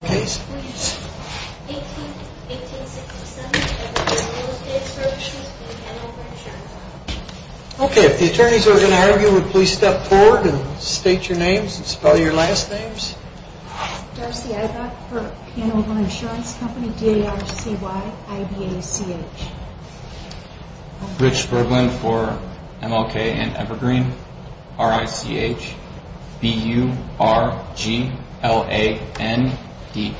Darcy Ibach, for Hanover Insurance Company, D-A-R-C-Y-I-B-A-C-H Rich Berglund, for MLK and Evergreen, R-I-C-H-B-U-R-G-L-A-N-D-A-R-C-H D-A-R-C-H-B-U-R-G-L-A-N-D-A-R-C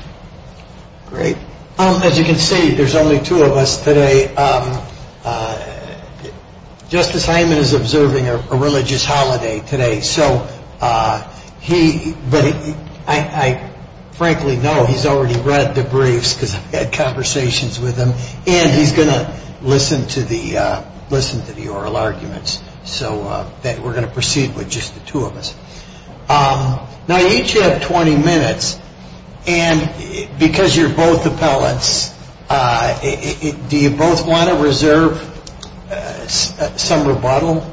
And because you're both appellants, do you both want to reserve some rebuttal?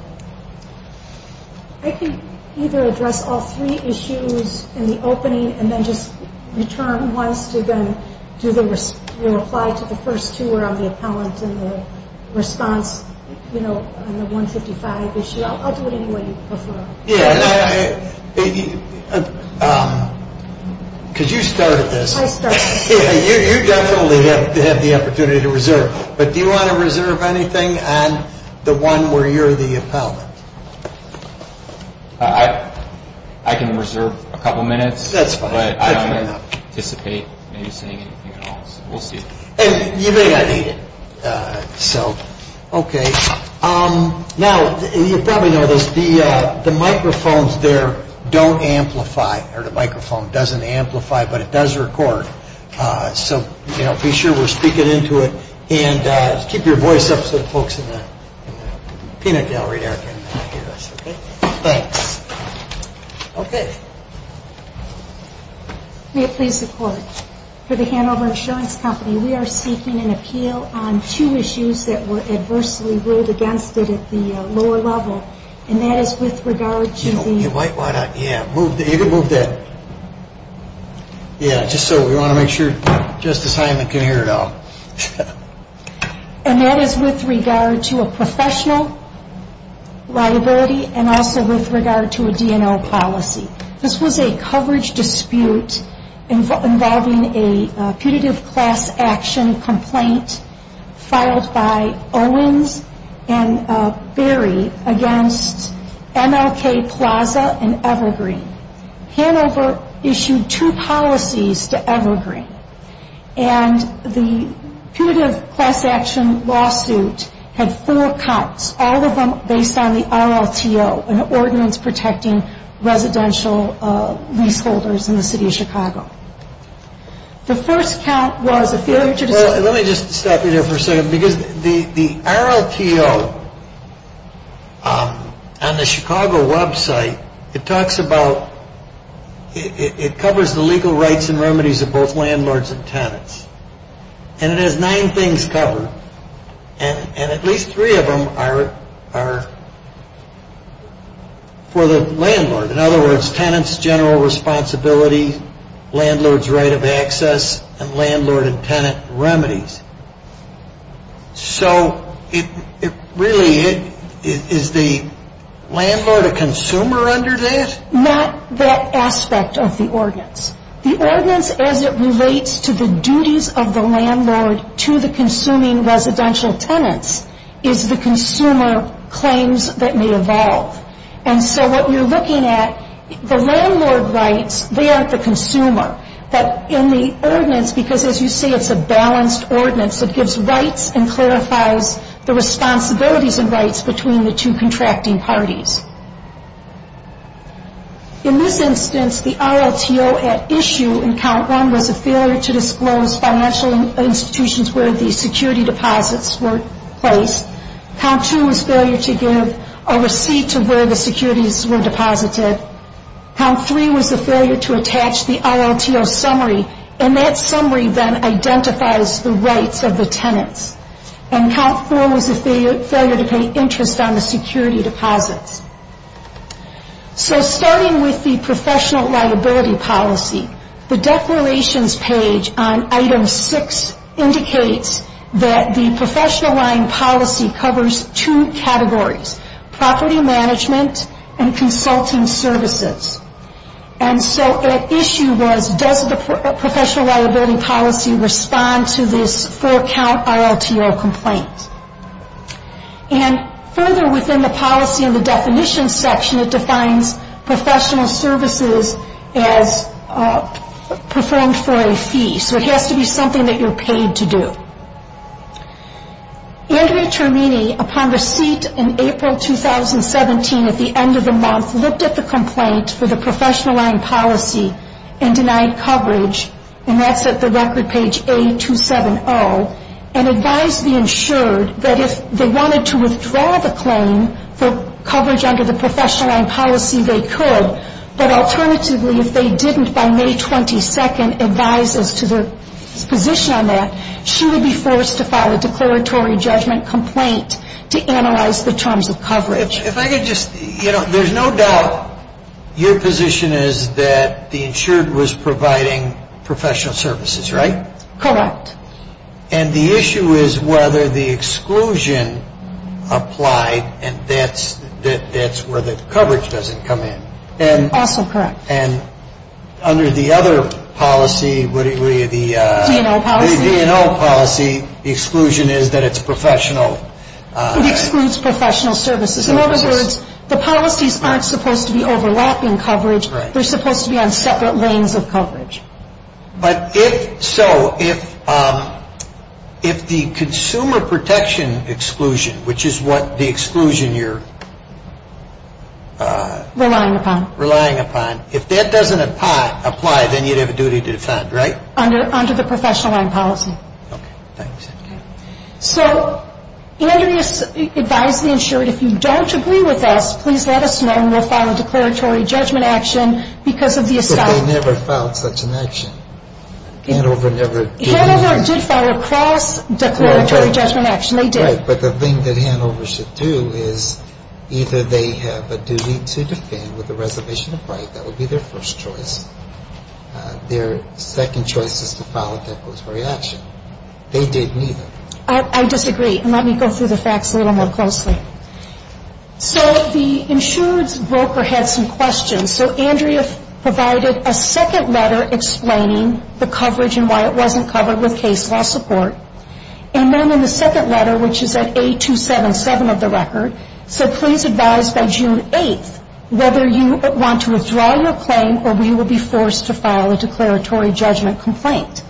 I can either address all three issues in the opening and then just return once to then do the reply to the first two around the appellant and the response, you know, on the 155 issue. I'll do it anyway you prefer. Could you start at this? You definitely have the opportunity to reserve, but do you want to reserve anything on the one where you're the appellant? I can reserve a couple minutes, but I don't anticipate maybe saying anything at all, so we'll see. And you may not need it. So, okay. Now, you probably know this, the microphones there don't amplify, or the microphone doesn't amplify, but it does record. So, you know, be sure we're speaking into it and keep your voice up so the folks in the peanut gallery there can hear us, okay? Thanks. Okay. May it please the Court, for the Hanover Insurance Company, we are seeking an appeal on two issues that were adversely ruled against it at the lower level, and that is with regard to the... Why not, yeah, move that. Yeah, just so we want to make sure Justice Heinlein can hear it all. And that is with regard to a professional liability and also with regard to a DNL policy. This was a coverage dispute involving a putative class action complaint filed by Owens and Berry against MLK Plaza and Evergreen. Hanover issued two policies to Evergreen, and the putative class action lawsuit had four counts, all of them based on the RLTO, an ordinance protecting residential leaseholders in the city of Chicago. The first count was... Well, let me just stop you there for a second, because the RLTO on the Chicago website, it talks about, it covers the legal rights and remedies of both landlords and tenants. And it has nine things covered, and at least three of them are for the landlord. In other words, tenants' general responsibility, landlords' right of access, and landlord and tenant remedies. So, really, is the landlord a consumer under this? Not that aspect of the ordinance. The ordinance, as it relates to the duties of the landlord to the consuming residential tenants, is the consumer claims that may evolve. And so what you're looking at, the landlord rights, they aren't the consumer. But in the ordinance, because as you see, it's a balanced ordinance, it gives rights and clarifies the responsibilities and rights between the two contracting parties. In this instance, the RLTO at issue in count one was a failure to disclose financial institutions where the security deposits were placed. Count two was a failure to give a receipt to where the securities were deposited. Count three was a failure to attach the RLTO summary, and that summary then identifies the rights of the tenants. And count four was a failure to pay interest on the security deposits. So, starting with the professional liability policy, the declarations page on item six indicates that the professional line policy covers two categories, property management and consulting services. And so the issue was, does the professional liability policy respond to this four count RLTO complaint? And further within the policy and the definition section, it defines professional services as performed for a fee. So it has to be something that you're paid to do. Andre Termini, upon receipt in April 2017 at the end of the month, looked at the complaint for the professional line policy and denied coverage, and that's at the record page A270, and advised the insured that if they wanted to withdraw the claim for coverage under the professional line policy, they could, but alternatively, if they didn't by May 22nd advise as to their position on that, she would be forced to file a declaratory judgment complaint to analyze the terms of coverage. If I could just, you know, there's no doubt your position is that the insured was providing professional services, right? Correct. And the issue is whether the exclusion applied, and that's where the coverage doesn't come in. Also correct. And under the other policy, the D&O policy, the exclusion is that it's professional. It excludes professional services. In other words, the policies aren't supposed to be overlapping coverage. They're supposed to be on separate lanes of coverage. But if so, if the consumer protection exclusion, which is what the exclusion you're relying upon, if that doesn't apply, then you'd have a duty to defend, right? Under the professional line policy. Okay, thanks. So Andrea advised the insured, if you don't agree with us, please let us know and we'll file a declaratory judgment action because of the assumption. But they never filed such an action. Hanover never did. Hanover did file a cross declaratory judgment action. They did. Right, but the thing that Hanover should do is either they have a duty to defend with a reservation of right. That would be their first choice. Their second choice is to file a declaratory action. They did neither. I disagree. And let me go through the facts a little more closely. So the insured's broker had some questions. So Andrea provided a second letter explaining the coverage and why it wasn't covered with case law support. And then in the second letter, which is at A277 of the record, said please advise by June 8th whether you want to withdraw your claim or we will be forced to file a declaratory judgment complaint.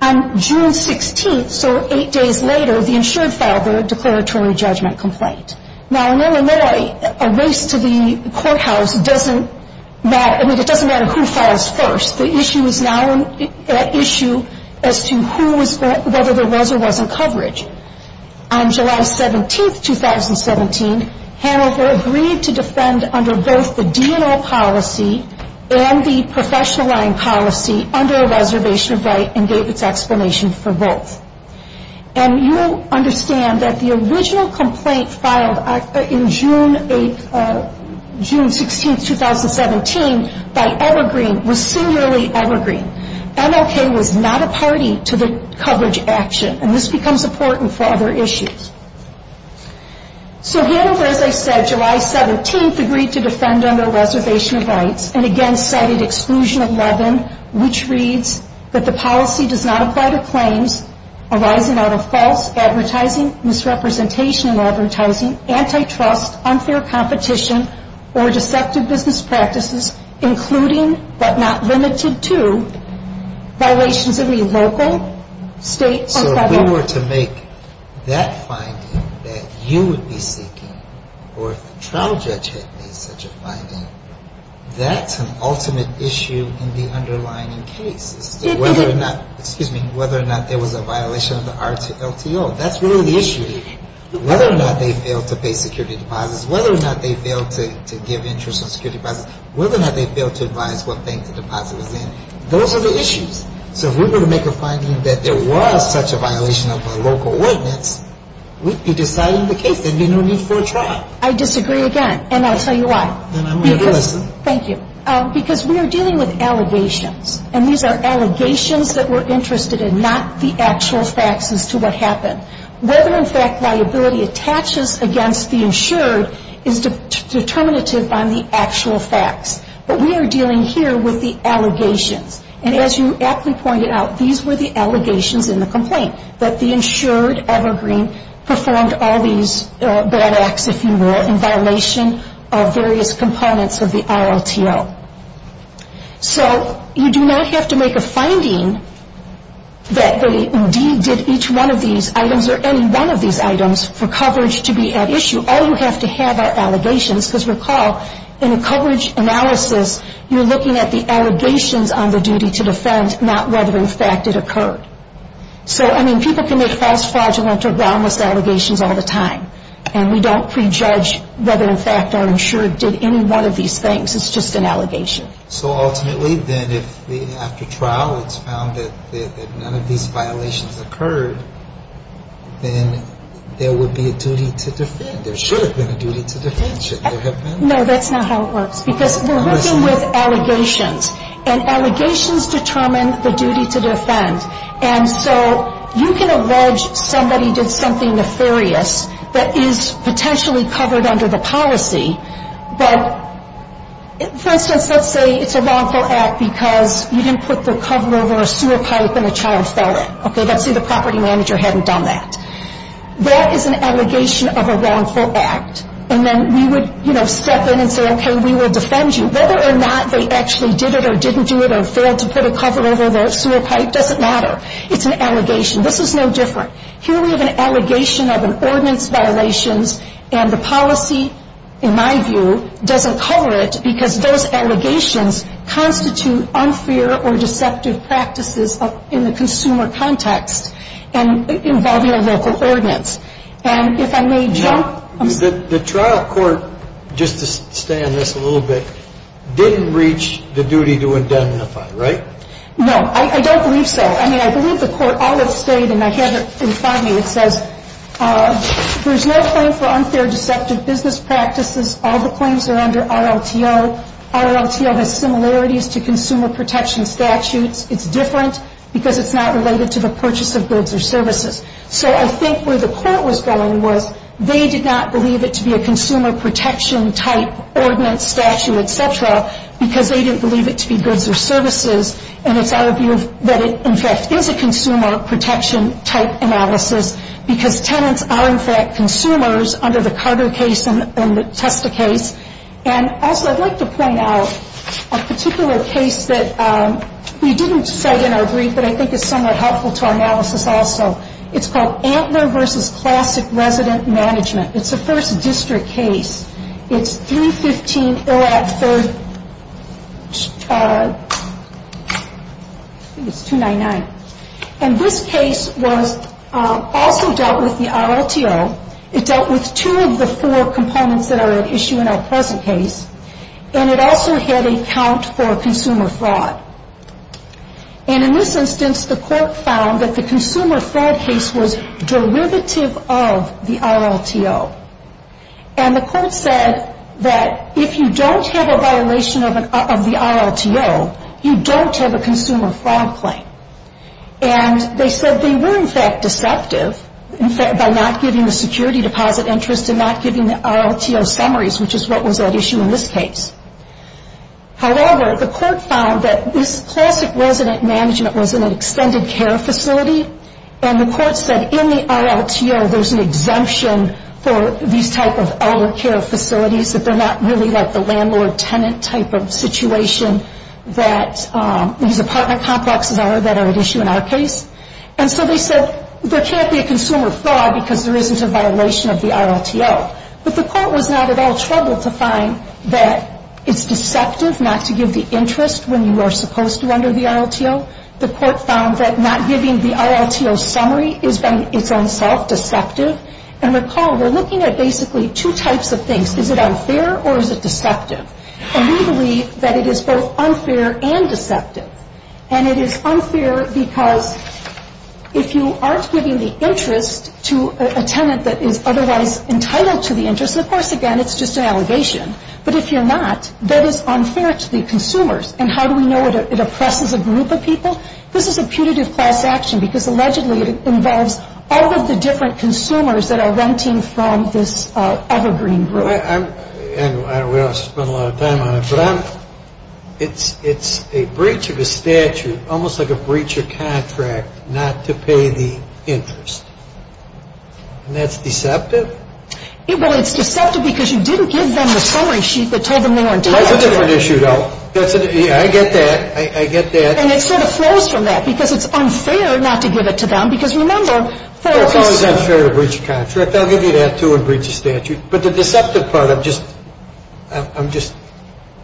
On June 16th, so eight days later, the insured filed their declaratory judgment complaint. Now, in Illinois, a race to the courthouse doesn't matter. I mean, it doesn't matter who files first. The issue is now an issue as to whether there was or wasn't coverage. On July 17th, 2017, Hanover agreed to defend under both the D&O policy and the professional line policy under a reservation of right and gave its explanation for both. And you'll understand that the original complaint filed in June 16th, 2017, by Evergreen was singularly Evergreen. MLK was not a party to the coverage action, and this becomes important for other issues. So Hanover, as I said, July 17th agreed to defend under a reservation of rights and again cited Exclusion 11, which reads that the policy does not apply to claims arising out of false advertising, misrepresentation in advertising, antitrust, unfair competition, or deceptive business practices, including but not limited to So if we were to make that finding that you would be seeking, or if the trial judge had made such a finding, that's an ultimate issue in the underlying case, whether or not there was a violation of the RTO. That's really the issue. Whether or not they failed to pay security deposits, whether or not they failed to give interest on security deposits, whether or not they failed to advise what bank the deposit was in, those are the issues. So if we were to make a finding that there was such a violation of a local witness, we'd be deciding the case. There'd be no need for a trial. I disagree again, and I'll tell you why. Then I'm going to listen. Thank you. Because we are dealing with allegations, and these are allegations that we're interested in, not the actual facts as to what happened. Whether in fact liability attaches against the insured is determinative on the actual facts. But we are dealing here with the allegations. And as you aptly pointed out, these were the allegations in the complaint, that the insured Evergreen performed all these bad acts, if you will, in violation of various components of the RLTO. So you do not have to make a finding that they indeed did each one of these items or any one of these items for coverage to be at issue. All you have to have are allegations, because recall, in a coverage analysis, you're looking at the allegations on the duty to defend, not whether in fact it occurred. So, I mean, people can make false, fraudulent, or groundless allegations all the time, and we don't prejudge whether in fact our insured did any one of these things. It's just an allegation. So ultimately, then, if after trial it's found that none of these violations occurred, then there would be a duty to defend. There should have been a duty to defend. No, that's not how it works. Because we're working with allegations, and allegations determine the duty to defend. And so you can allege somebody did something nefarious that is potentially covered under the policy, but, for instance, let's say it's a wrongful act because you didn't put the cover over a sewer pipe and a child fell in. Okay, let's say the property manager hadn't done that. That is an allegation of a wrongful act. And then we would, you know, step in and say, okay, we will defend you. Whether or not they actually did it or didn't do it or failed to put a cover over the sewer pipe doesn't matter. It's an allegation. This is no different. Here we have an allegation of an ordinance violations, and the policy, in my view, doesn't cover it because those allegations constitute unfair or deceptive practices in the consumer context involving a local ordinance. And if I may jump — Now, the trial court, just to stay on this a little bit, didn't reach the duty to indemnify, right? No. I don't believe so. I mean, I believe the court all have stated, and I have it in front of me, it says there's no claim for unfair, deceptive business practices. All the claims are under RLTO. RLTO has similarities to consumer protection statutes. It's different because it's not related to the purchase of goods or services. So I think where the court was going was they did not believe it to be a consumer protection-type ordinance, statute, et cetera, because they didn't believe it to be goods or services. And it's our view that it, in fact, is a consumer protection-type analysis because tenants are, in fact, consumers under the Carter case and the Testa case. And also, I'd like to point out a particular case that we didn't cite in our brief but I think is somewhat helpful to our analysis also. It's called Antler v. Classic Resident Management. It's a first district case. It's 315 Orratt 3rd, I think it's 299. And this case was also dealt with the RLTO. It dealt with two of the four components that are at issue in our present case. And it also had a count for consumer fraud. And in this instance, the court found that the consumer fraud case was derivative of the RLTO. And the court said that if you don't have a violation of the RLTO, you don't have a consumer fraud claim. And they said they were, in fact, deceptive by not giving the security deposit interest and not giving the RLTO summaries, which is what was at issue in this case. However, the court found that this Classic Resident Management was an extended care facility. And the court said in the RLTO, there's an exemption for these type of elder care facilities, that they're not really like the landlord-tenant type of situation that these apartment complexes are that are at issue in our case. And so they said there can't be a consumer fraud because there isn't a violation of the RLTO. But the court was not at all troubled to find that it's deceptive not to give the interest when you are supposed to under the RLTO. The court found that not giving the RLTO summary is by itself deceptive. And recall, we're looking at basically two types of things. Is it unfair or is it deceptive? And we believe that it is both unfair and deceptive. And it is unfair because if you aren't giving the interest to a tenant that is otherwise entitled to the interest, of course, again, it's just an allegation. But if you're not, that is unfair to the consumers. And how do we know it oppresses a group of people? This is a putative class action because allegedly it involves all of the different consumers that are renting from this evergreen group. And we don't spend a lot of time on it, but it's a breach of a statute, almost like a breach of contract, not to pay the interest. And that's deceptive? Well, it's deceptive because you didn't give them the summary sheet that told them they weren't entitled to it. That's a different issue, though. I get that. I get that. And it sort of flows from that because it's unfair not to give it to them. Because remember, for a piece of... Well, it's always unfair to breach a contract. I'll give you that, too, and breach a statute. But the deceptive part, I'm just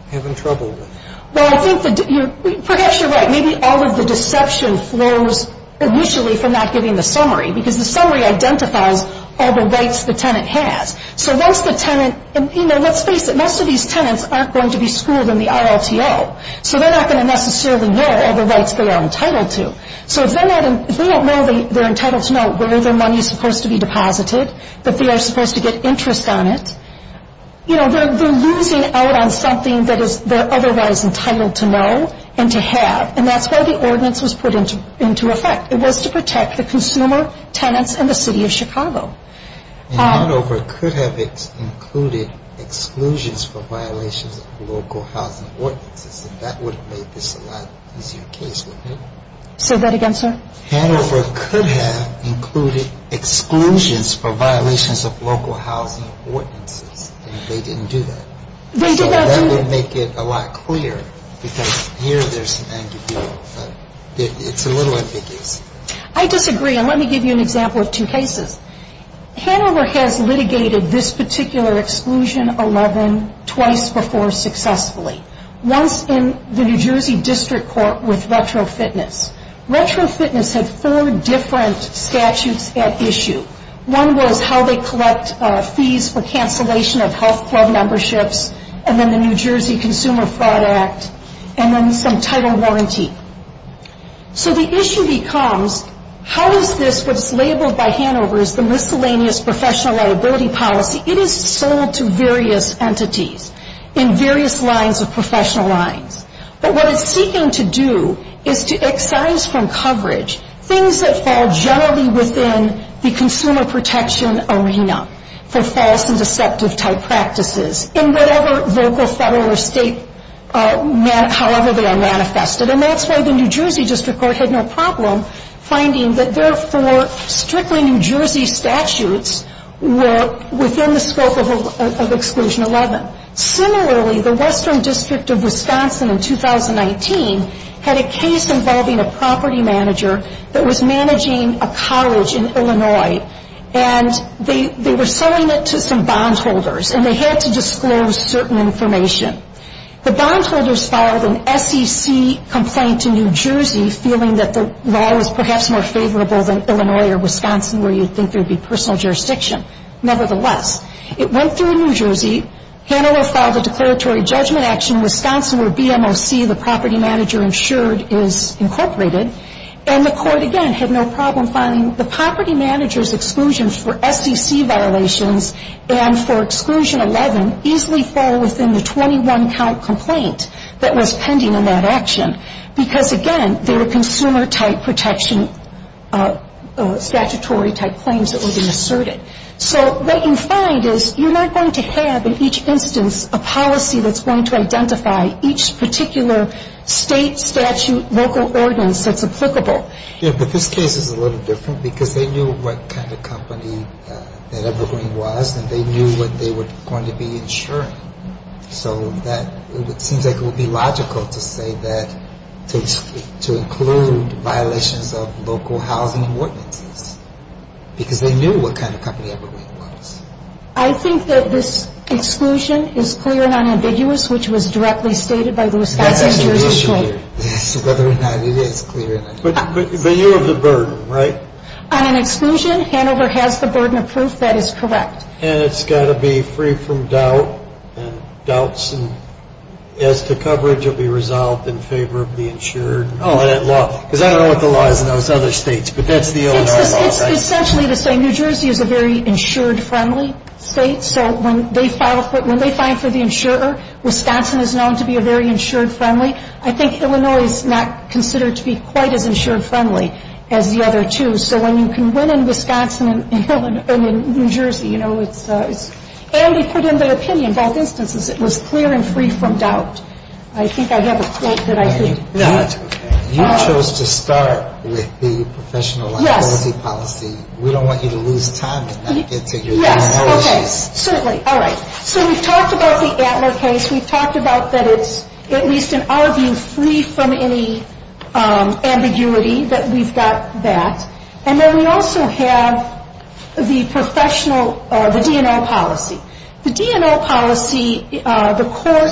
having trouble with. Well, I think that perhaps you're right. Maybe all of the deception flows initially from not giving the summary because the summary identifies all the rights the tenant has. So once the tenant... And, you know, let's face it, most of these tenants aren't going to be schooled in the RLTO, so they're not going to necessarily know all the rights they are entitled to. So if they don't know they're entitled to know where their money is supposed to be deposited, that they are supposed to get interest on it, you know, they're losing out on something that they're otherwise entitled to know and to have. And that's why the ordinance was put into effect. It was to protect the consumer, tenants, and the city of Chicago. And Hanover could have included exclusions for violations of local housing ordinances, and that would have made this a lot easier case, wouldn't it? Say that again, sir? Hanover could have included exclusions for violations of local housing ordinances, and they didn't do that. They did not do... So that would make it a lot clearer. Because here there's an ambiguity, but it's a little ambiguous. I disagree, and let me give you an example of two cases. Hanover has litigated this particular Exclusion 11 twice before successfully. Once in the New Jersey District Court with Retro Fitness. Retro Fitness had four different statutes at issue. One was how they collect fees for cancellation of health club memberships, and then the New Jersey Consumer Fraud Act, and then some title warranty. So the issue becomes, how is this what is labeled by Hanover as the miscellaneous professional liability policy? It is sold to various entities in various lines of professional lines. But what it's seeking to do is to excise from coverage things that fall generally within the consumer protection arena for false and deceptive-type practices in whatever local, federal, or state, however they are manifested. And that's why the New Jersey District Court had no problem finding that their four strictly New Jersey statutes were within the scope of Exclusion 11. Similarly, the Western District of Wisconsin in 2019 had a case involving a property manager that was managing a college in Illinois, and they were selling it to some bondholders, and they had to disclose certain information. The bondholders filed an SEC complaint to New Jersey feeling that the law was perhaps more favorable than Illinois or Wisconsin where you'd think there would be personal jurisdiction. Nevertheless, it went through New Jersey, Hanover filed a declaratory judgment action in Wisconsin where BMOC, the property manager insured, is incorporated, and the court, again, had no problem finding the property manager's exclusions for SEC violations and for Exclusion 11 easily fall within the 21-count complaint that was pending in that action because, again, they were consumer-type protection statutory-type claims that were being asserted. So what you find is you're not going to have in each instance a policy that's going to identify each particular state, statute, local ordinance that's applicable. Yeah, but this case is a little different because they knew what kind of company that Evergreen was, and they knew what they were going to be insuring. So it seems like it would be logical to say that to include violations of local housing ordinances because they knew what kind of company Evergreen was. I think that this exclusion is clear and unambiguous, which was directly stated by the Wisconsin Jurisdiction. Yes, whether or not it is clear. But you have the burden, right? On an exclusion, Hanover has the burden of proof that is correct. And it's got to be free from doubt, and doubts as to coverage will be resolved in favor of the insured. Oh, and that law. Because I don't know what the law is in those other states, but that's the Illinois law, right? It's essentially to say New Jersey is a very insured-friendly state, so when they file for the insurer, Wisconsin is known to be a very insured-friendly. I think Illinois is not considered to be quite as insured-friendly as the other two. So when you can win in Wisconsin and in New Jersey, you know, and they put in their opinion, both instances, it was clear and free from doubt. I think I have a quote that I could read. You chose to start with the professional liability policy. We don't want you to lose time and not get to your own policy. Yes, okay, certainly. All right. So we've talked about the Adler case. We've talked about that it's, at least in our view, free from any ambiguity that we've got that. And then we also have the professional, the D&L policy. The D&L policy, the court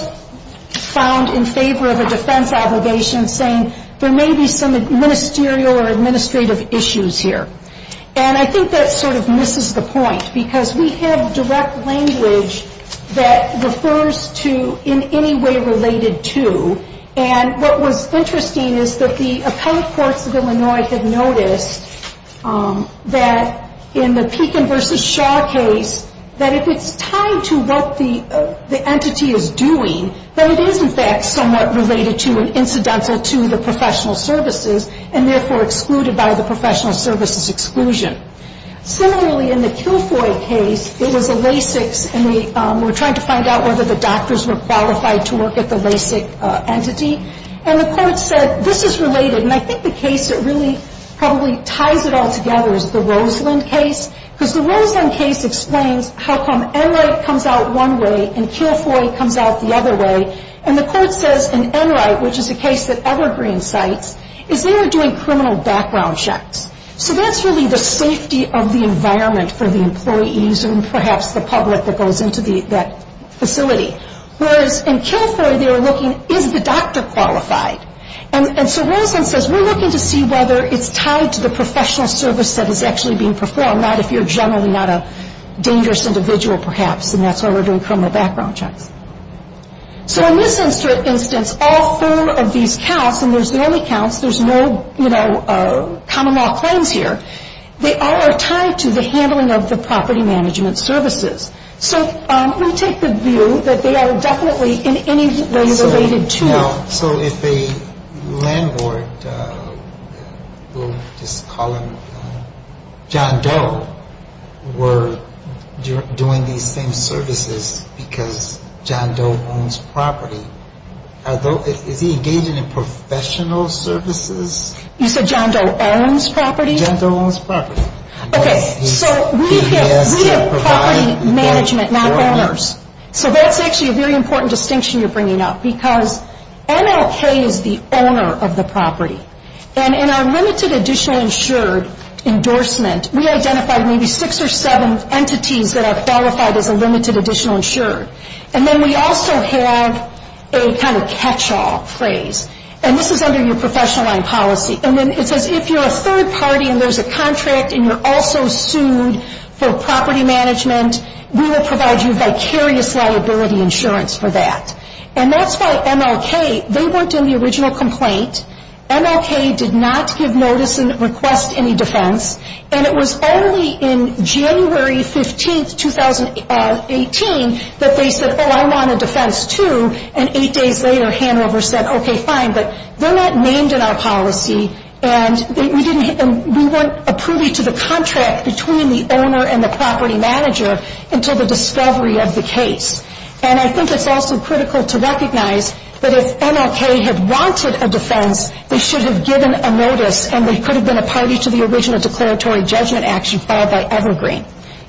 found in favor of a defense obligation saying there may be some ministerial or administrative issues here. And I think that sort of misses the point, because we have direct language that refers to in any way related to. And what was interesting is that the appellate courts of Illinois have noticed that in the Pekin v. Shaw case, that if it's tied to what the entity is doing, then it is, in fact, somewhat related to and incidental to the professional services and therefore excluded by the professional services exclusion. Similarly, in the Kilfoy case, it was a LASIK, and we were trying to find out whether the doctors were qualified to work at the LASIK entity. And the court said this is related. And I think the case that really probably ties it all together is the Roseland case, because the Roseland case explains how come Enright comes out one way and Kilfoy comes out the other way. And the court says in Enright, which is a case that Evergreen cites, is they are doing criminal background checks. So that's really the safety of the environment for the employees and perhaps the public that goes into that facility. Whereas in Kilfoy, they were looking, is the doctor qualified? And so Roseland says we're looking to see whether it's tied to the professional service that is actually being performed, not if you're generally not a dangerous individual perhaps, and that's why we're doing criminal background checks. So in this instance, all four of these counts, and there's the only counts, there's no common law claims here, they all are tied to the handling of the property management services. So we take the view that they are definitely in any way related to. So if a landlord, we'll just call him John Doe, were doing these same services because John Doe owns property, is he engaging in professional services? You said John Doe owns property? John Doe owns property. Okay, so we have property management, not owners. So that's actually a very important distinction you're bringing up because MLK is the owner of the property. And in our limited additional insured endorsement, we identified maybe six or seven entities that are qualified as a limited additional insured. And then we also have a kind of catch-all phrase, and this is under your professional line policy. And then it says if you're a third party and there's a contract and you're also sued for property management, we will provide you vicarious liability insurance for that. And that's why MLK, they weren't in the original complaint. MLK did not give notice and request any defense, and it was only in January 15, 2018, that they said, oh, I want a defense too. And eight days later, Hanover said, okay, fine. But they're not named in our policy, and we weren't approving to the contract between the owner and the property manager until the discovery of the case. And I think it's also critical to recognize that if MLK had wanted a defense, they should have given a notice, and they could have been a party to the original declaratory judgment action filed by Evergreen,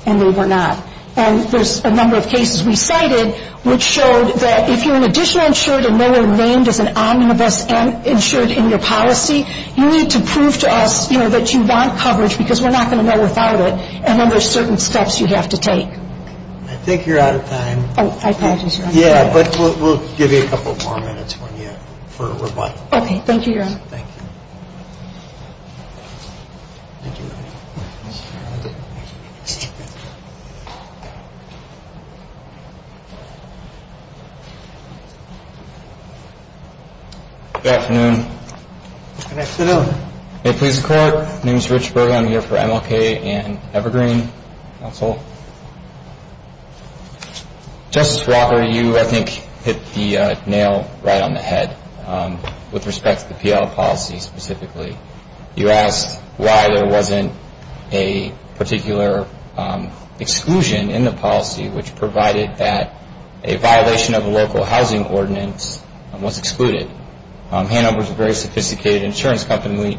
and they were not. And there's a number of cases we cited which showed that if you're an additional insured and no longer named as an omnibus insured in your policy, you need to prove to us that you want coverage because we're not going to know without it, and then there's certain steps you have to take. I think you're out of time. Oh, I apologize. Yeah, but we'll give you a couple more minutes for rebuttal. Okay, thank you, Your Honor. Thank you. Good afternoon. Good afternoon. Hey, police and court. My name is Rich Berg. I'm here for MLK and Evergreen counsel. Justice Walker, you, I think, hit the nail right on the head with respect to the PL policy specifically. You asked why there wasn't a particular exclusion in the policy, which provided that a violation of a local housing ordinance was excluded. Hanover is a very sophisticated insurance company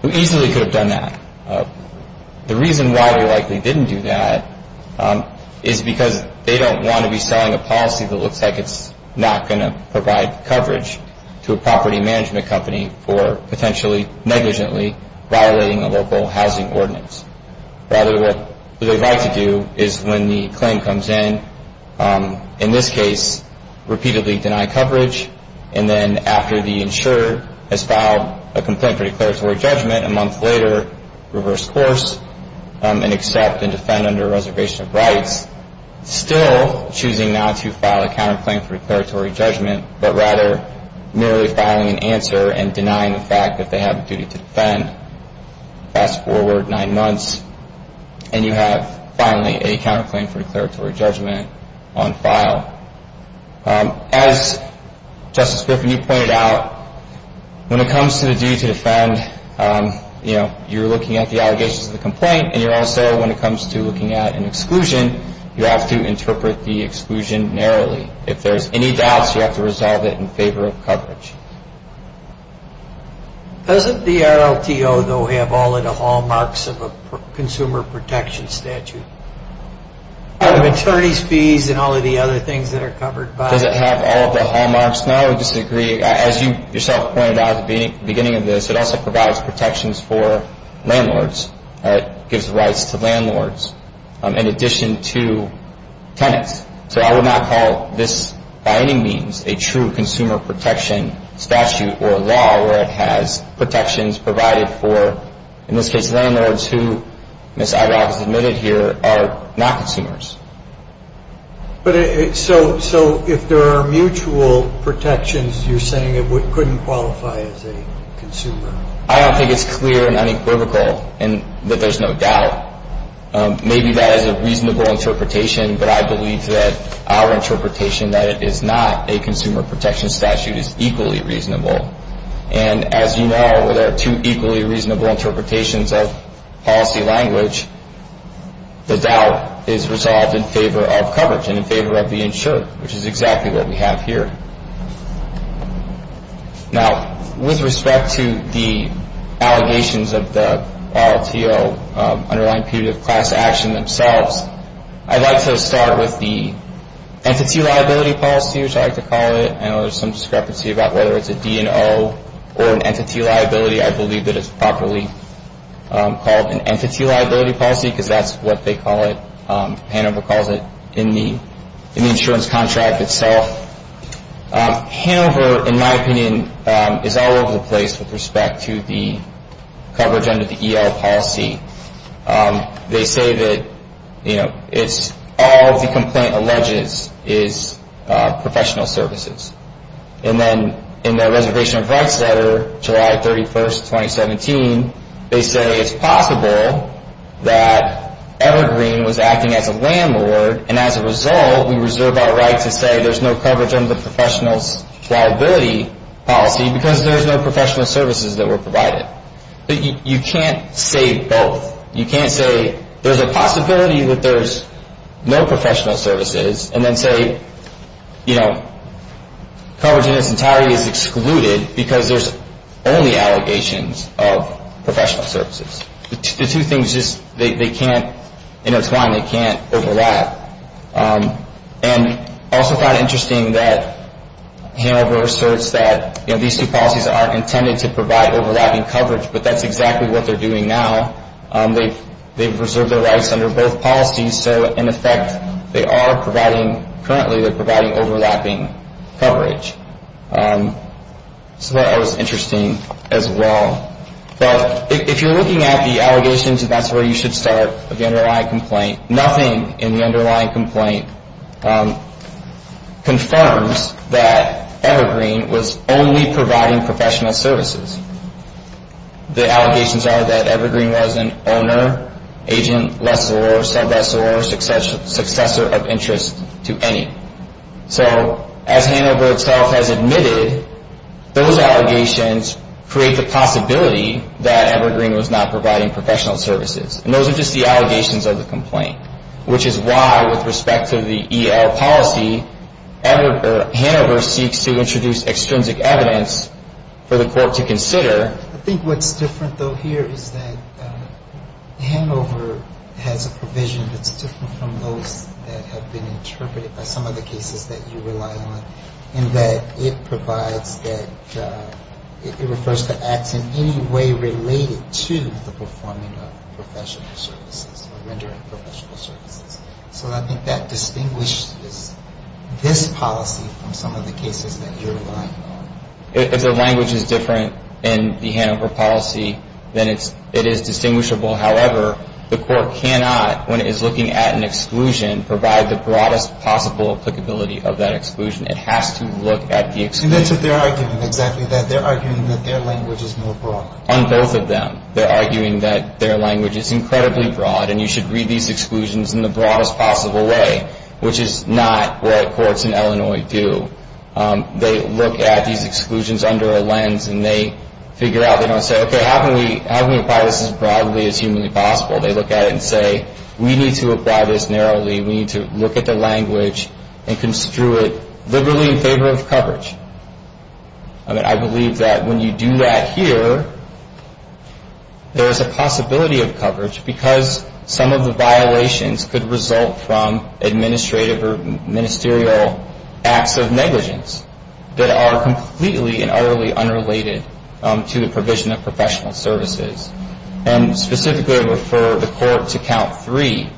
who easily could have done that. The reason why they likely didn't do that is because they don't want to be selling a policy that looks like it's not going to provide coverage to a property management company for potentially negligently violating a local housing ordinance. Rather, what they'd like to do is when the claim comes in, in this case, repeatedly deny coverage, and then after the insurer has filed a complaint for declaratory judgment a month later, reverse course and accept and defend under a reservation of rights, still choosing not to file a counterclaim for declaratory judgment, but rather merely filing an answer and denying the fact that they have a duty to defend. Fast forward nine months, and you have finally a counterclaim for declaratory judgment on file. As Justice Griffin, you pointed out, when it comes to the duty to defend, you're looking at the allegations of the complaint, and you're also, when it comes to looking at an exclusion, you have to interpret the exclusion narrowly. If there's any doubts, you have to resolve it in favor of coverage. Doesn't the RLTO, though, have all of the hallmarks of a consumer protection statute? The attorneys' fees and all of the other things that are covered by it. Does it have all of the hallmarks? No, I would disagree. As you yourself pointed out at the beginning of this, it also provides protections for landlords. It gives rights to landlords in addition to tenants. So I would not call this, by any means, a true consumer protection statute or law where it has protections provided for, in this case, landlords who, as Ms. Agarwal has admitted here, are not consumers. So if there are mutual protections, you're saying it couldn't qualify as a consumer? I don't think it's clear and unequivocal that there's no doubt. Maybe that is a reasonable interpretation, but I believe that our interpretation that it is not a consumer protection statute is equally reasonable. And as you know, where there are two equally reasonable interpretations of policy language, the doubt is resolved in favor of coverage and in favor of the insured, which is exactly what we have here. Now, with respect to the allegations of the RLTO underlying punitive class action themselves, I'd like to start with the entity liability policy, which I like to call it. I know there's some discrepancy about whether it's a D&O or an entity liability. I believe that it's properly called an entity liability policy because that's what they call it. Hanover calls it in the insurance contract itself. Hanover, in my opinion, is all over the place with respect to the coverage under the EL policy. They say that all the complaint alleges is professional services. And then in the Reservation of Rights Letter, July 31, 2017, they say it's possible that Evergreen was acting as a landlord, and as a result, we reserve our right to say there's no coverage under the professional liability policy because there's no professional services that were provided. You can't say both. You can't say there's a possibility that there's no professional services and then say coverage in its entirety is excluded because there's only allegations of professional services. The two things just, they can't intertwine. They can't overlap. And I also find it interesting that Hanover asserts that these two policies are intended to provide overlapping coverage, but that's exactly what they're doing now. They've reserved their rights under both policies. So, in effect, they are providing, currently they're providing overlapping coverage. So that was interesting as well. But if you're looking at the allegations, that's where you should start with the underlying complaint. Nothing in the underlying complaint confirms that Evergreen was only providing professional services. The allegations are that Evergreen was an owner, agent, lessor, sub-lessor, successor of interest to any. So as Hanover itself has admitted, those allegations create the possibility that Evergreen was not providing professional services. And those are just the allegations of the complaint, which is why, with respect to the E.L. policy, Hanover seeks to introduce extrinsic evidence for the court to consider. I think what's different, though, here is that Hanover has a provision that's different from those that have been interpreted by some of the cases that you rely on, in that it provides that, it refers to acts in any way related to the performing of professional services or rendering professional services. So I think that distinguishes this policy from some of the cases that you're relying on. If the language is different in the Hanover policy, then it is distinguishable. However, the court cannot, when it is looking at an exclusion, provide the broadest possible applicability of that exclusion. It has to look at the exclusion. And that's what they're arguing, exactly. They're arguing that their language is more broad. On both of them, they're arguing that their language is incredibly broad and you should read these exclusions in the broadest possible way, which is not what courts in Illinois do. They look at these exclusions under a lens and they figure out, they don't say, okay, how can we apply this as broadly as humanly possible? They look at it and say, we need to apply this narrowly. We need to look at the language and construe it liberally in favor of coverage. I believe that when you do that here, there is a possibility of coverage because some of the violations could result from administrative or ministerial acts of negligence that are completely and utterly unrelated to the provision of professional services. And specifically, I would refer the court to count three,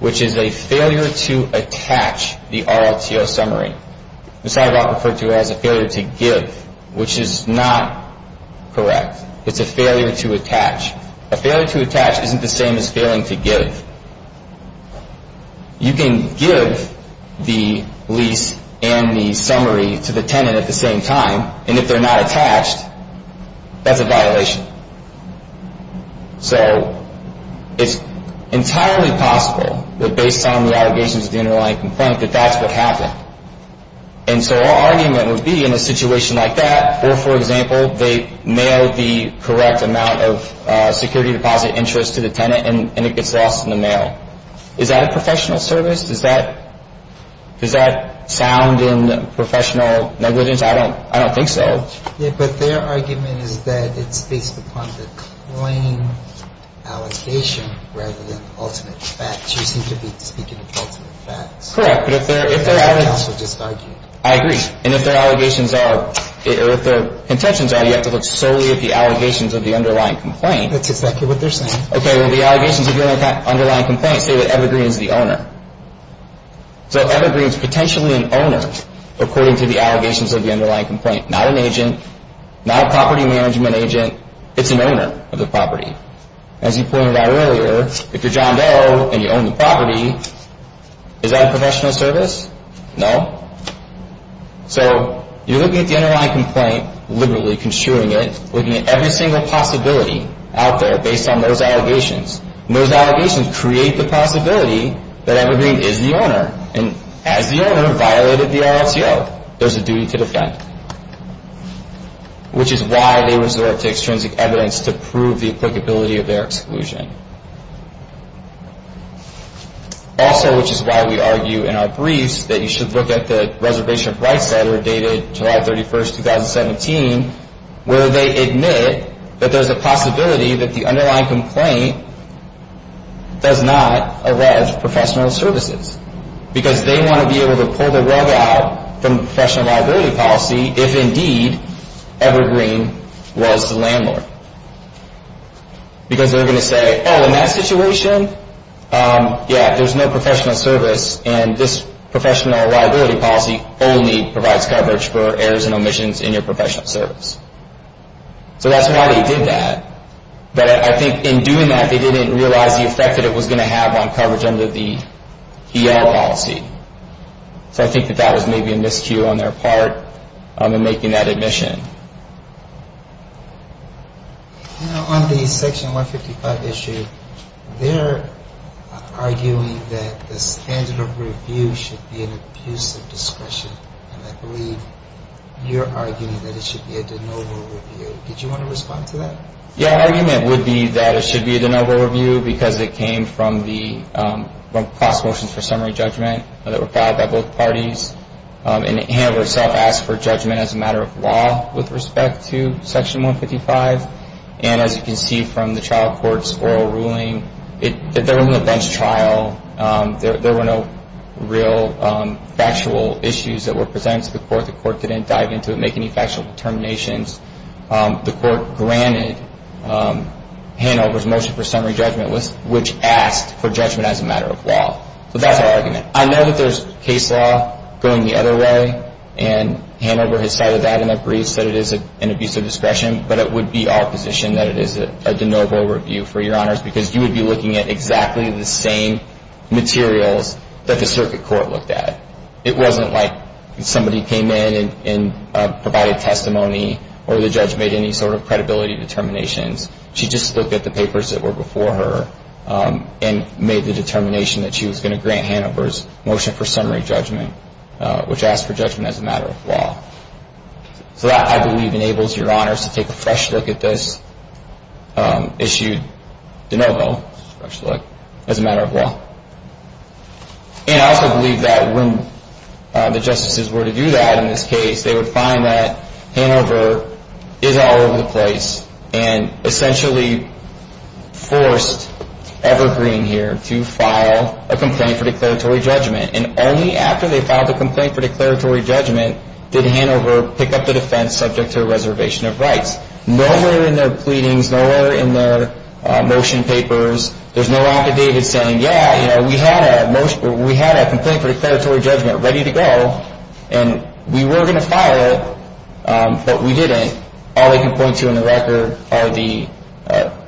which is a failure to attach the RLTO summary. This is often referred to as a failure to give, which is not correct. It's a failure to attach. A failure to attach isn't the same as failing to give. You can give the lease and the summary to the tenant at the same time, and if they're not attached, that's a violation. So it's entirely possible that based on the allegations of the underlying complaint, that that's what happened. And so our argument would be in a situation like that, or for example, they mail the correct amount of security deposit interest to the tenant and it gets lost in the mail. Is that a professional service? Does that sound in professional negligence? I don't think so. Yeah, but their argument is that it's based upon the claim allegation rather than ultimate facts. You seem to be speaking of ultimate facts. Correct. That's what counsel just argued. I agree. And if their allegations are or if their contentions are, you have to look solely at the allegations of the underlying complaint. That's exactly what they're saying. Okay. Well, the allegations of the underlying complaint say that Evergreen is the owner. So Evergreen is potentially an owner according to the allegations of the underlying complaint. Not an agent. Not a property management agent. It's an owner of the property. As you pointed out earlier, if you're John Doe and you own the property, is that a professional service? No. So you're looking at the underlying complaint, literally construing it, looking at every single possibility out there based on those allegations. And those allegations create the possibility that Evergreen is the owner. And has the owner violated the RLTO? There's a duty to defend. Which is why they resort to extrinsic evidence to prove the applicability of their exclusion. Also, which is why we argue in our briefs that you should look at the Reservation of Rights Letter dated July 31, 2017, where they admit that there's a possibility that the underlying complaint does not erode professional services. Because they want to be able to pull the rug out from the professional liability policy if, indeed, Evergreen was the landlord. Because they're going to say, oh, in that situation, yeah, there's no professional service. And this professional liability policy only provides coverage for errors and omissions in your professional service. So that's why they did that. But I think in doing that, they didn't realize the effect that it was going to have on coverage under the ER policy. So I think that that was maybe a miscue on their part in making that admission. Now, on the Section 155 issue, they're arguing that the standard of review should be an abuse of discretion. And I believe you're arguing that it should be a de novo review. Did you want to respond to that? Yeah, our argument would be that it should be a de novo review because it came from the class motions for summary judgment that were filed by both parties. And Hanover itself asked for judgment as a matter of law with respect to Section 155. And as you can see from the trial court's oral ruling, there was no bench trial. There were no real factual issues that were presented to the court. The court didn't dive into it, make any factual determinations. The court granted Hanover's motion for summary judgment, which asked for judgment as a matter of law. So that's our argument. I know that there's case law going the other way, and Hanover has cited that and agrees that it is an abuse of discretion. But it would be our position that it is a de novo review, for your honors, because you would be looking at exactly the same materials that the circuit court looked at. It wasn't like somebody came in and provided testimony or the judge made any sort of credibility determinations. She just looked at the papers that were before her and made the determination that she was going to grant Hanover's motion for summary judgment, which asked for judgment as a matter of law. So that, I believe, enables your honors to take a fresh look at this issued de novo as a matter of law. And I also believe that when the justices were to do that in this case, they would find that Hanover is all over the place and essentially forced Evergreen here to file a complaint for declaratory judgment. And only after they filed a complaint for declaratory judgment did Hanover pick up the defense subject to a reservation of rights. Nowhere in their pleadings, nowhere in their motion papers, there's no affidavit saying, yeah, you know, we had a complaint for declaratory judgment ready to go and we were going to file it, but we didn't. All they can point to in the record are the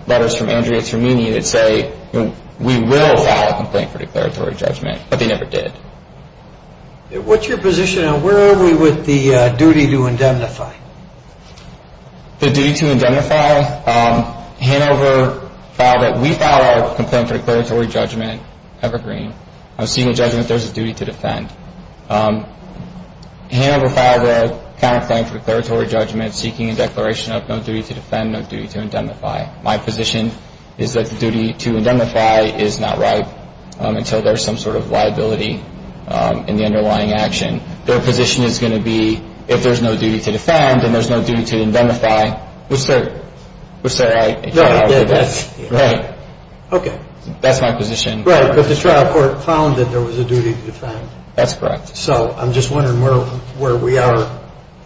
letters from Andrea Termini that say, we will file a complaint for declaratory judgment, but they never did. What's your position and where are we with the duty to indemnify? The duty to indemnify, Hanover filed it. We filed a complaint for declaratory judgment, Evergreen. I'm seeing a judgment there's a duty to defend. Hanover filed a counterclaim for declaratory judgment seeking a declaration of no duty to defend, no duty to indemnify. My position is that the duty to indemnify is not right until there's some sort of liability in the underlying action. Their position is going to be, if there's no duty to defend, then there's no duty to indemnify. Which they're right. Right. Okay. That's my position. Right. But the trial court found that there was a duty to defend. That's correct. So I'm just wondering where we are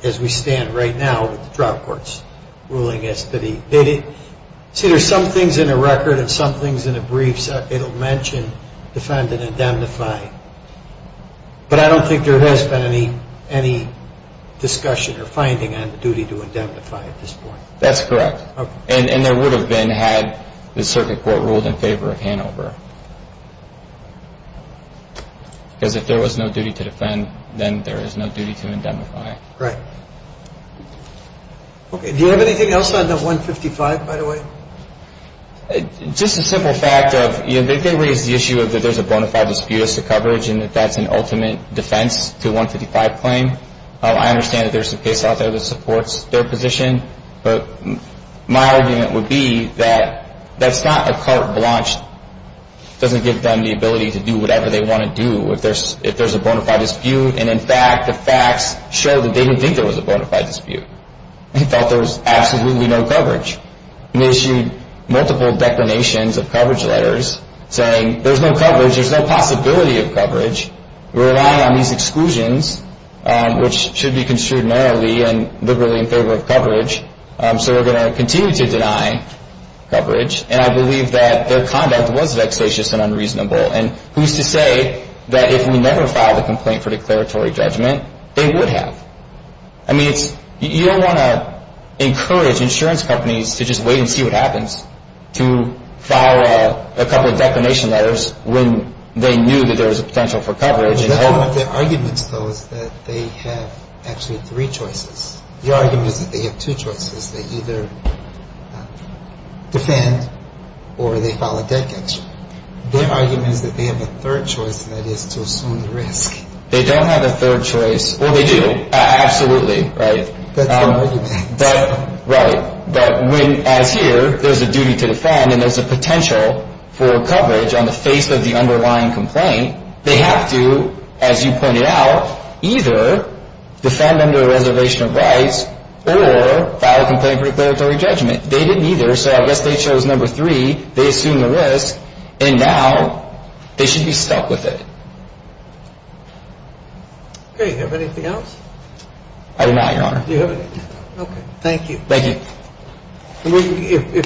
as we stand right now with the trial court's ruling. See, there's some things in the record and some things in the briefs it'll mention defend and indemnify. But I don't think there has been any discussion or finding on the duty to indemnify at this point. That's correct. Okay. And there would have been had the circuit court ruled in favor of Hanover. Because if there was no duty to defend, then there is no duty to indemnify. Right. Okay. Do you have anything else on the 155, by the way? Just a simple fact of, you know, they did raise the issue of that there's a bona fide dispute as to coverage and that that's an ultimate defense to a 155 claim. I understand that there's a case out there that supports their position. But my argument would be that that's not a carte blanche. It doesn't give them the ability to do whatever they want to do if there's a bona fide dispute. And, in fact, the facts show that they didn't think there was a bona fide dispute. They felt there was absolutely no coverage. They issued multiple declarations of coverage letters saying there's no coverage, there's no possibility of coverage, we're relying on these exclusions, which should be construed narrowly and liberally in favor of coverage, so we're going to continue to deny coverage. And I believe that their conduct was vexatious and unreasonable. And who's to say that if we never filed a complaint for declaratory judgment, they would have? I mean, you don't want to encourage insurance companies to just wait and see what happens to file a couple of declaration letters when they knew that there was a potential for coverage. That's one of their arguments, though, is that they have actually three choices. Their argument is that they have two choices. They either defend or they file a debt capture. Their argument is that they have a third choice, and that is to assume the risk. They don't have a third choice. Well, they do. Absolutely, right. That's their argument. Right. But when, as here, there's a duty to defend and there's a potential for coverage on the face of the underlying complaint, they have to, as you pointed out, either defend under a reservation of rights or file a complaint for declaratory judgment. They didn't either, so I guess they chose number three. They assumed the risk, and now they should be stuck with it. Okay. Do you have anything else? I do not, Your Honor. Do you have anything else? Okay. Thank you. Thank you.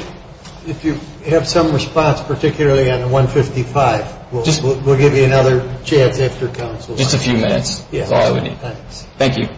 If you have some response, particularly on 155, we'll give you another chance after counsel. Just a few minutes is all I would need. Thanks. Thank you.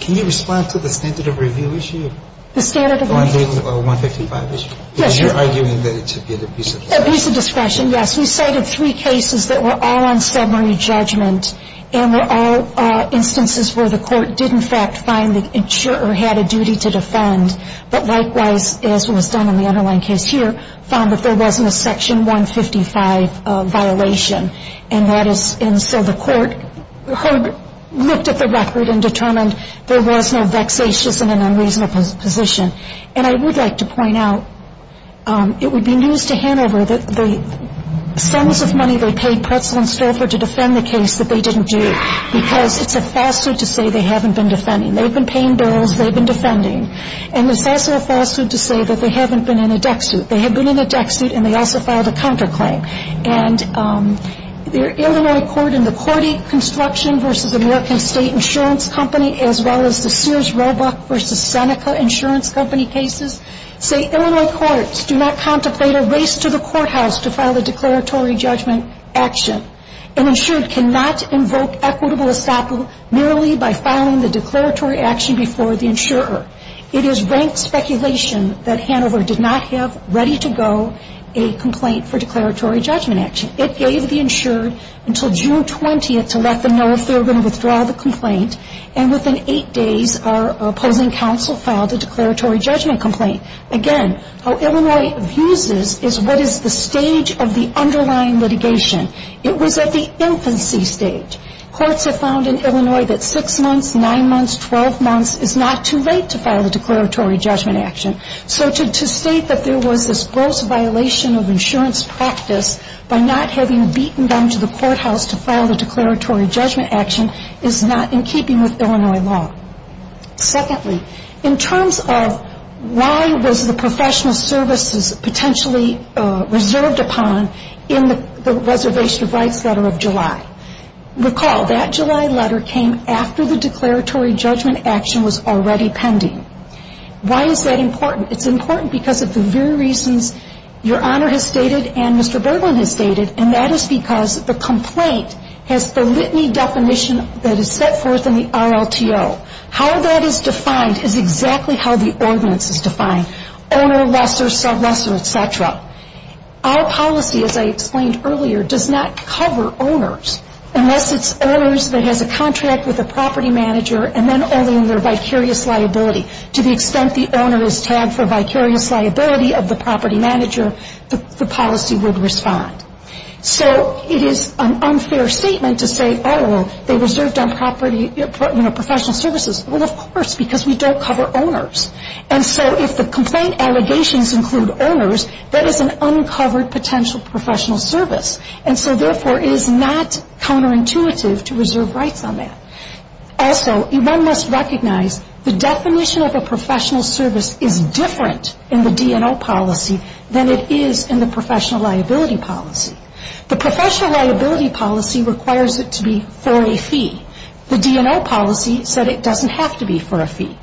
Can you respond to the standard of review issue? The standard of review? The 155 issue. Yes. Because you're arguing that it's a piece of discretion. A piece of discretion, yes. We cited three cases that were all on summary judgment and were all instances where the court did, in fact, find or had a duty to defend, but likewise, as was done in the underlying case here, found that there wasn't a Section 155 violation. And so the court looked at the record and determined there was no vexatious and an unreasonable position. And I would like to point out it would be news to Hanover that the sums of money they paid Pretzel and Stouffer to defend the case that they didn't do because it's a falsehood to say they haven't been defending. They've been paying bills. They've been defending. And it's also a falsehood to say that they haven't been in a deck suit. They had been in a deck suit, and they also filed a counterclaim. And the Illinois court in the Cordy Construction v. American State Insurance Company as well as the Sears Roebuck v. Seneca Insurance Company cases say Illinois courts do not contemplate a race to the courthouse to file a declaratory judgment action. An insured cannot invoke equitable estoppel merely by filing the declaratory action before the insurer. It is rank speculation that Hanover did not have ready to go a complaint for declaratory judgment action. It gave the insured until June 20th to let them know if they were going to withdraw the complaint. And within eight days, our opposing counsel filed a declaratory judgment complaint. Again, how Illinois views this is what is the stage of the underlying litigation. It was at the infancy stage. Courts have found in Illinois that six months, nine months, 12 months is not too late to file a declaratory judgment action. So to state that there was this gross violation of insurance practice by not having beaten them to the courthouse to file the declaratory judgment action is not in keeping with Illinois law. Secondly, in terms of why was the professional services potentially reserved upon in the Reservation of Rights Letter of July? Recall that July letter came after the declaratory judgment action was already pending. Why is that important? It's important because of the very reasons Your Honor has stated and Mr. Berglund has stated, and that is because the complaint has the litany definition that is set forth in the RLTO. How that is defined is exactly how the ordinance is defined. Owner lesser, sub-lesser, et cetera. Our policy, as I explained earlier, does not cover owners unless it's owners that has a contract with a property manager and then only in their vicarious liability. To the extent the owner is tagged for vicarious liability of the property manager, the policy would respond. So it is an unfair statement to say, oh, well, they reserved on property, you know, professional services. Well, of course, because we don't cover owners. And so if the complaint allegations include owners, that is an uncovered potential professional service. And so, therefore, it is not counterintuitive to reserve rights on that. Also, one must recognize the definition of a professional service is different in the D&O policy than it is in the professional liability policy. The professional liability policy requires it to be for a fee. The D&O policy said it doesn't have to be for a fee.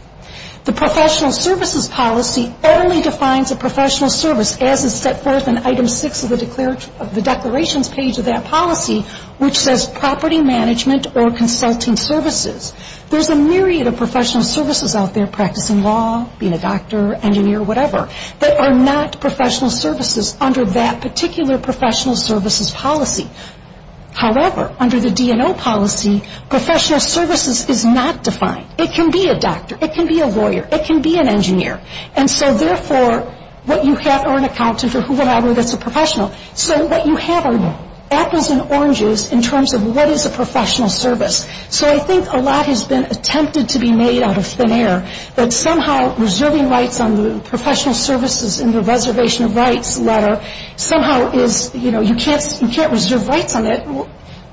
The professional services policy only defines a professional service as is set forth in item six of the declarations page of that policy, which says property management or consulting services. There's a myriad of professional services out there, practicing law, being a doctor, engineer, whatever, that are not professional services under that particular professional services policy. However, under the D&O policy, professional services is not defined. It can be a doctor. It can be a lawyer. It can be an engineer. And so, therefore, what you have are an accountant or whoever gets a professional. So what you have are apples and oranges in terms of what is a professional service. So I think a lot has been attempted to be made out of thin air, that somehow reserving rights on the professional services in the reservation of rights letter somehow is, you know, you can't reserve rights on it.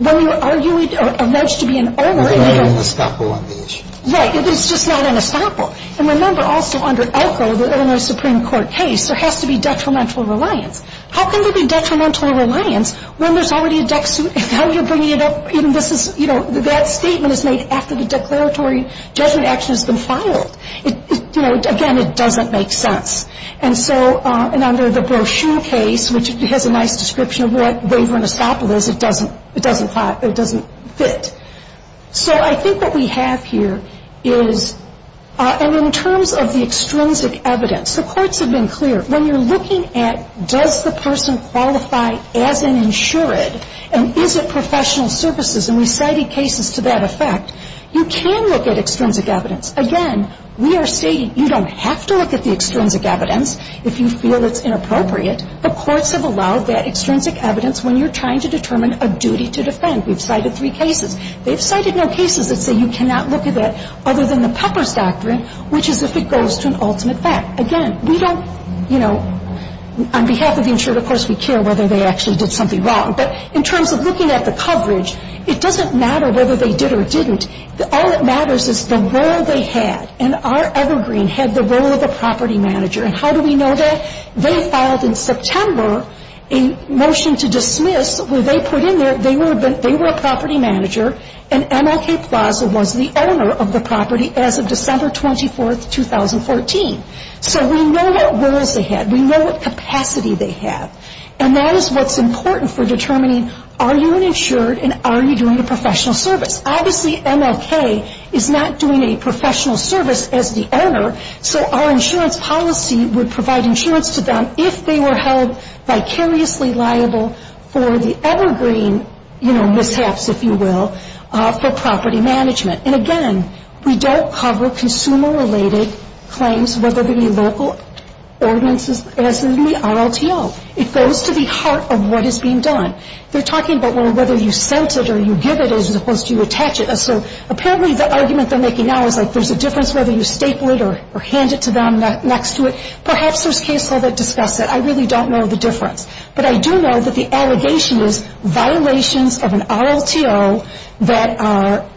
Are you alleged to be an owner? It's not an estoppel on the issue. Right. It's just not an estoppel. And remember also under Elko, the Illinois Supreme Court case, there has to be detrimental reliance. How can there be detrimental reliance when there's already a dex suit? Now you're bringing it up. You know, that statement is made after the declaratory judgment action has been filed. You know, again, it doesn't make sense. And so under the brochure case, which has a nice description of what waiver and estoppel is, it doesn't fit. So I think what we have here is, and in terms of the extrinsic evidence, the courts have been clear. When you're looking at does the person qualify as an insured and is it professional services, and we cited cases to that effect, you can look at extrinsic evidence. Again, we are stating you don't have to look at the extrinsic evidence if you feel it's inappropriate. The courts have allowed that extrinsic evidence when you're trying to determine a duty to defend. We've cited three cases. They've cited no cases that say you cannot look at that other than the Pepper's Doctrine, which is if it goes to an ultimate fact. Again, we don't, you know, on behalf of the insured, of course, we care whether they actually did something wrong. But in terms of looking at the coverage, it doesn't matter whether they did or didn't. All that matters is the role they had. And our evergreen had the role of the property manager. And how do we know that? They filed in September a motion to dismiss where they put in there they were a property manager and MLK Plaza was the owner of the property as of December 24, 2014. So we know what roles they had. We know what capacity they have. And that is what's important for determining are you an insured and are you doing a professional service. Obviously MLK is not doing a professional service as the owner, so our insurance policy would provide insurance to them if they were held vicariously liable for the evergreen, you know, mishaps, if you will, for property management. And again, we don't cover consumer-related claims, whether they be local ordinances, as in the RLTO. It goes to the heart of what is being done. They're talking about whether you sent it or you give it as opposed to you attach it. So apparently the argument they're making now is like there's a difference whether you staple it or hand it to them next to it. Perhaps there's case law that discusses it. I really don't know the difference. But I do know that the allegation is violations of an RLTO that are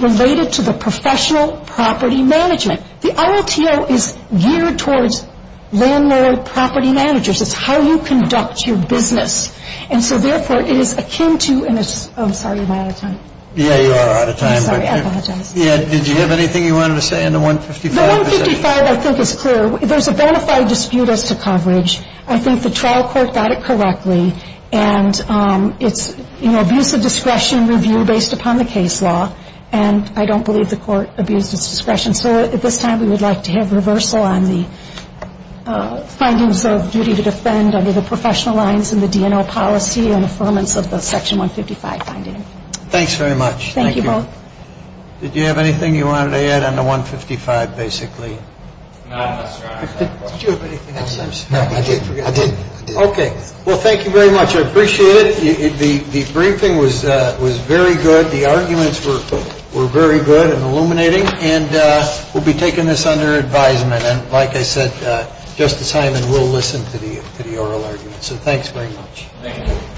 related to the professional property management. The RLTO is geared towards landlord property managers. It's how you conduct your business. And so, therefore, it is akin to ‑‑ I'm sorry, am I out of time? Yeah, you are out of time. Sorry, I apologize. Did you have anything you wanted to say on the 155? The 155 I think is clear. There's a bona fide dispute as to coverage. I think the trial court got it correctly. And it's, you know, abuse of discretion review based upon the case law. And I don't believe the court abused its discretion. So at this time we would like to have reversal on the findings of duty to defend under the professional lines and the DNL policy and affirmance of the section 155 finding. Thanks very much. Thank you. Did you have anything you wanted to add on the 155 basically? No, I'm not sure I have anything. Did you have anything else? No, I did. Okay. Well, thank you very much. I appreciate it. The briefing was very good. The arguments were very good and illuminating. And we'll be taking this under advisement. And like I said, Justice Hyman will listen to the oral arguments. So thanks very much. Thank you.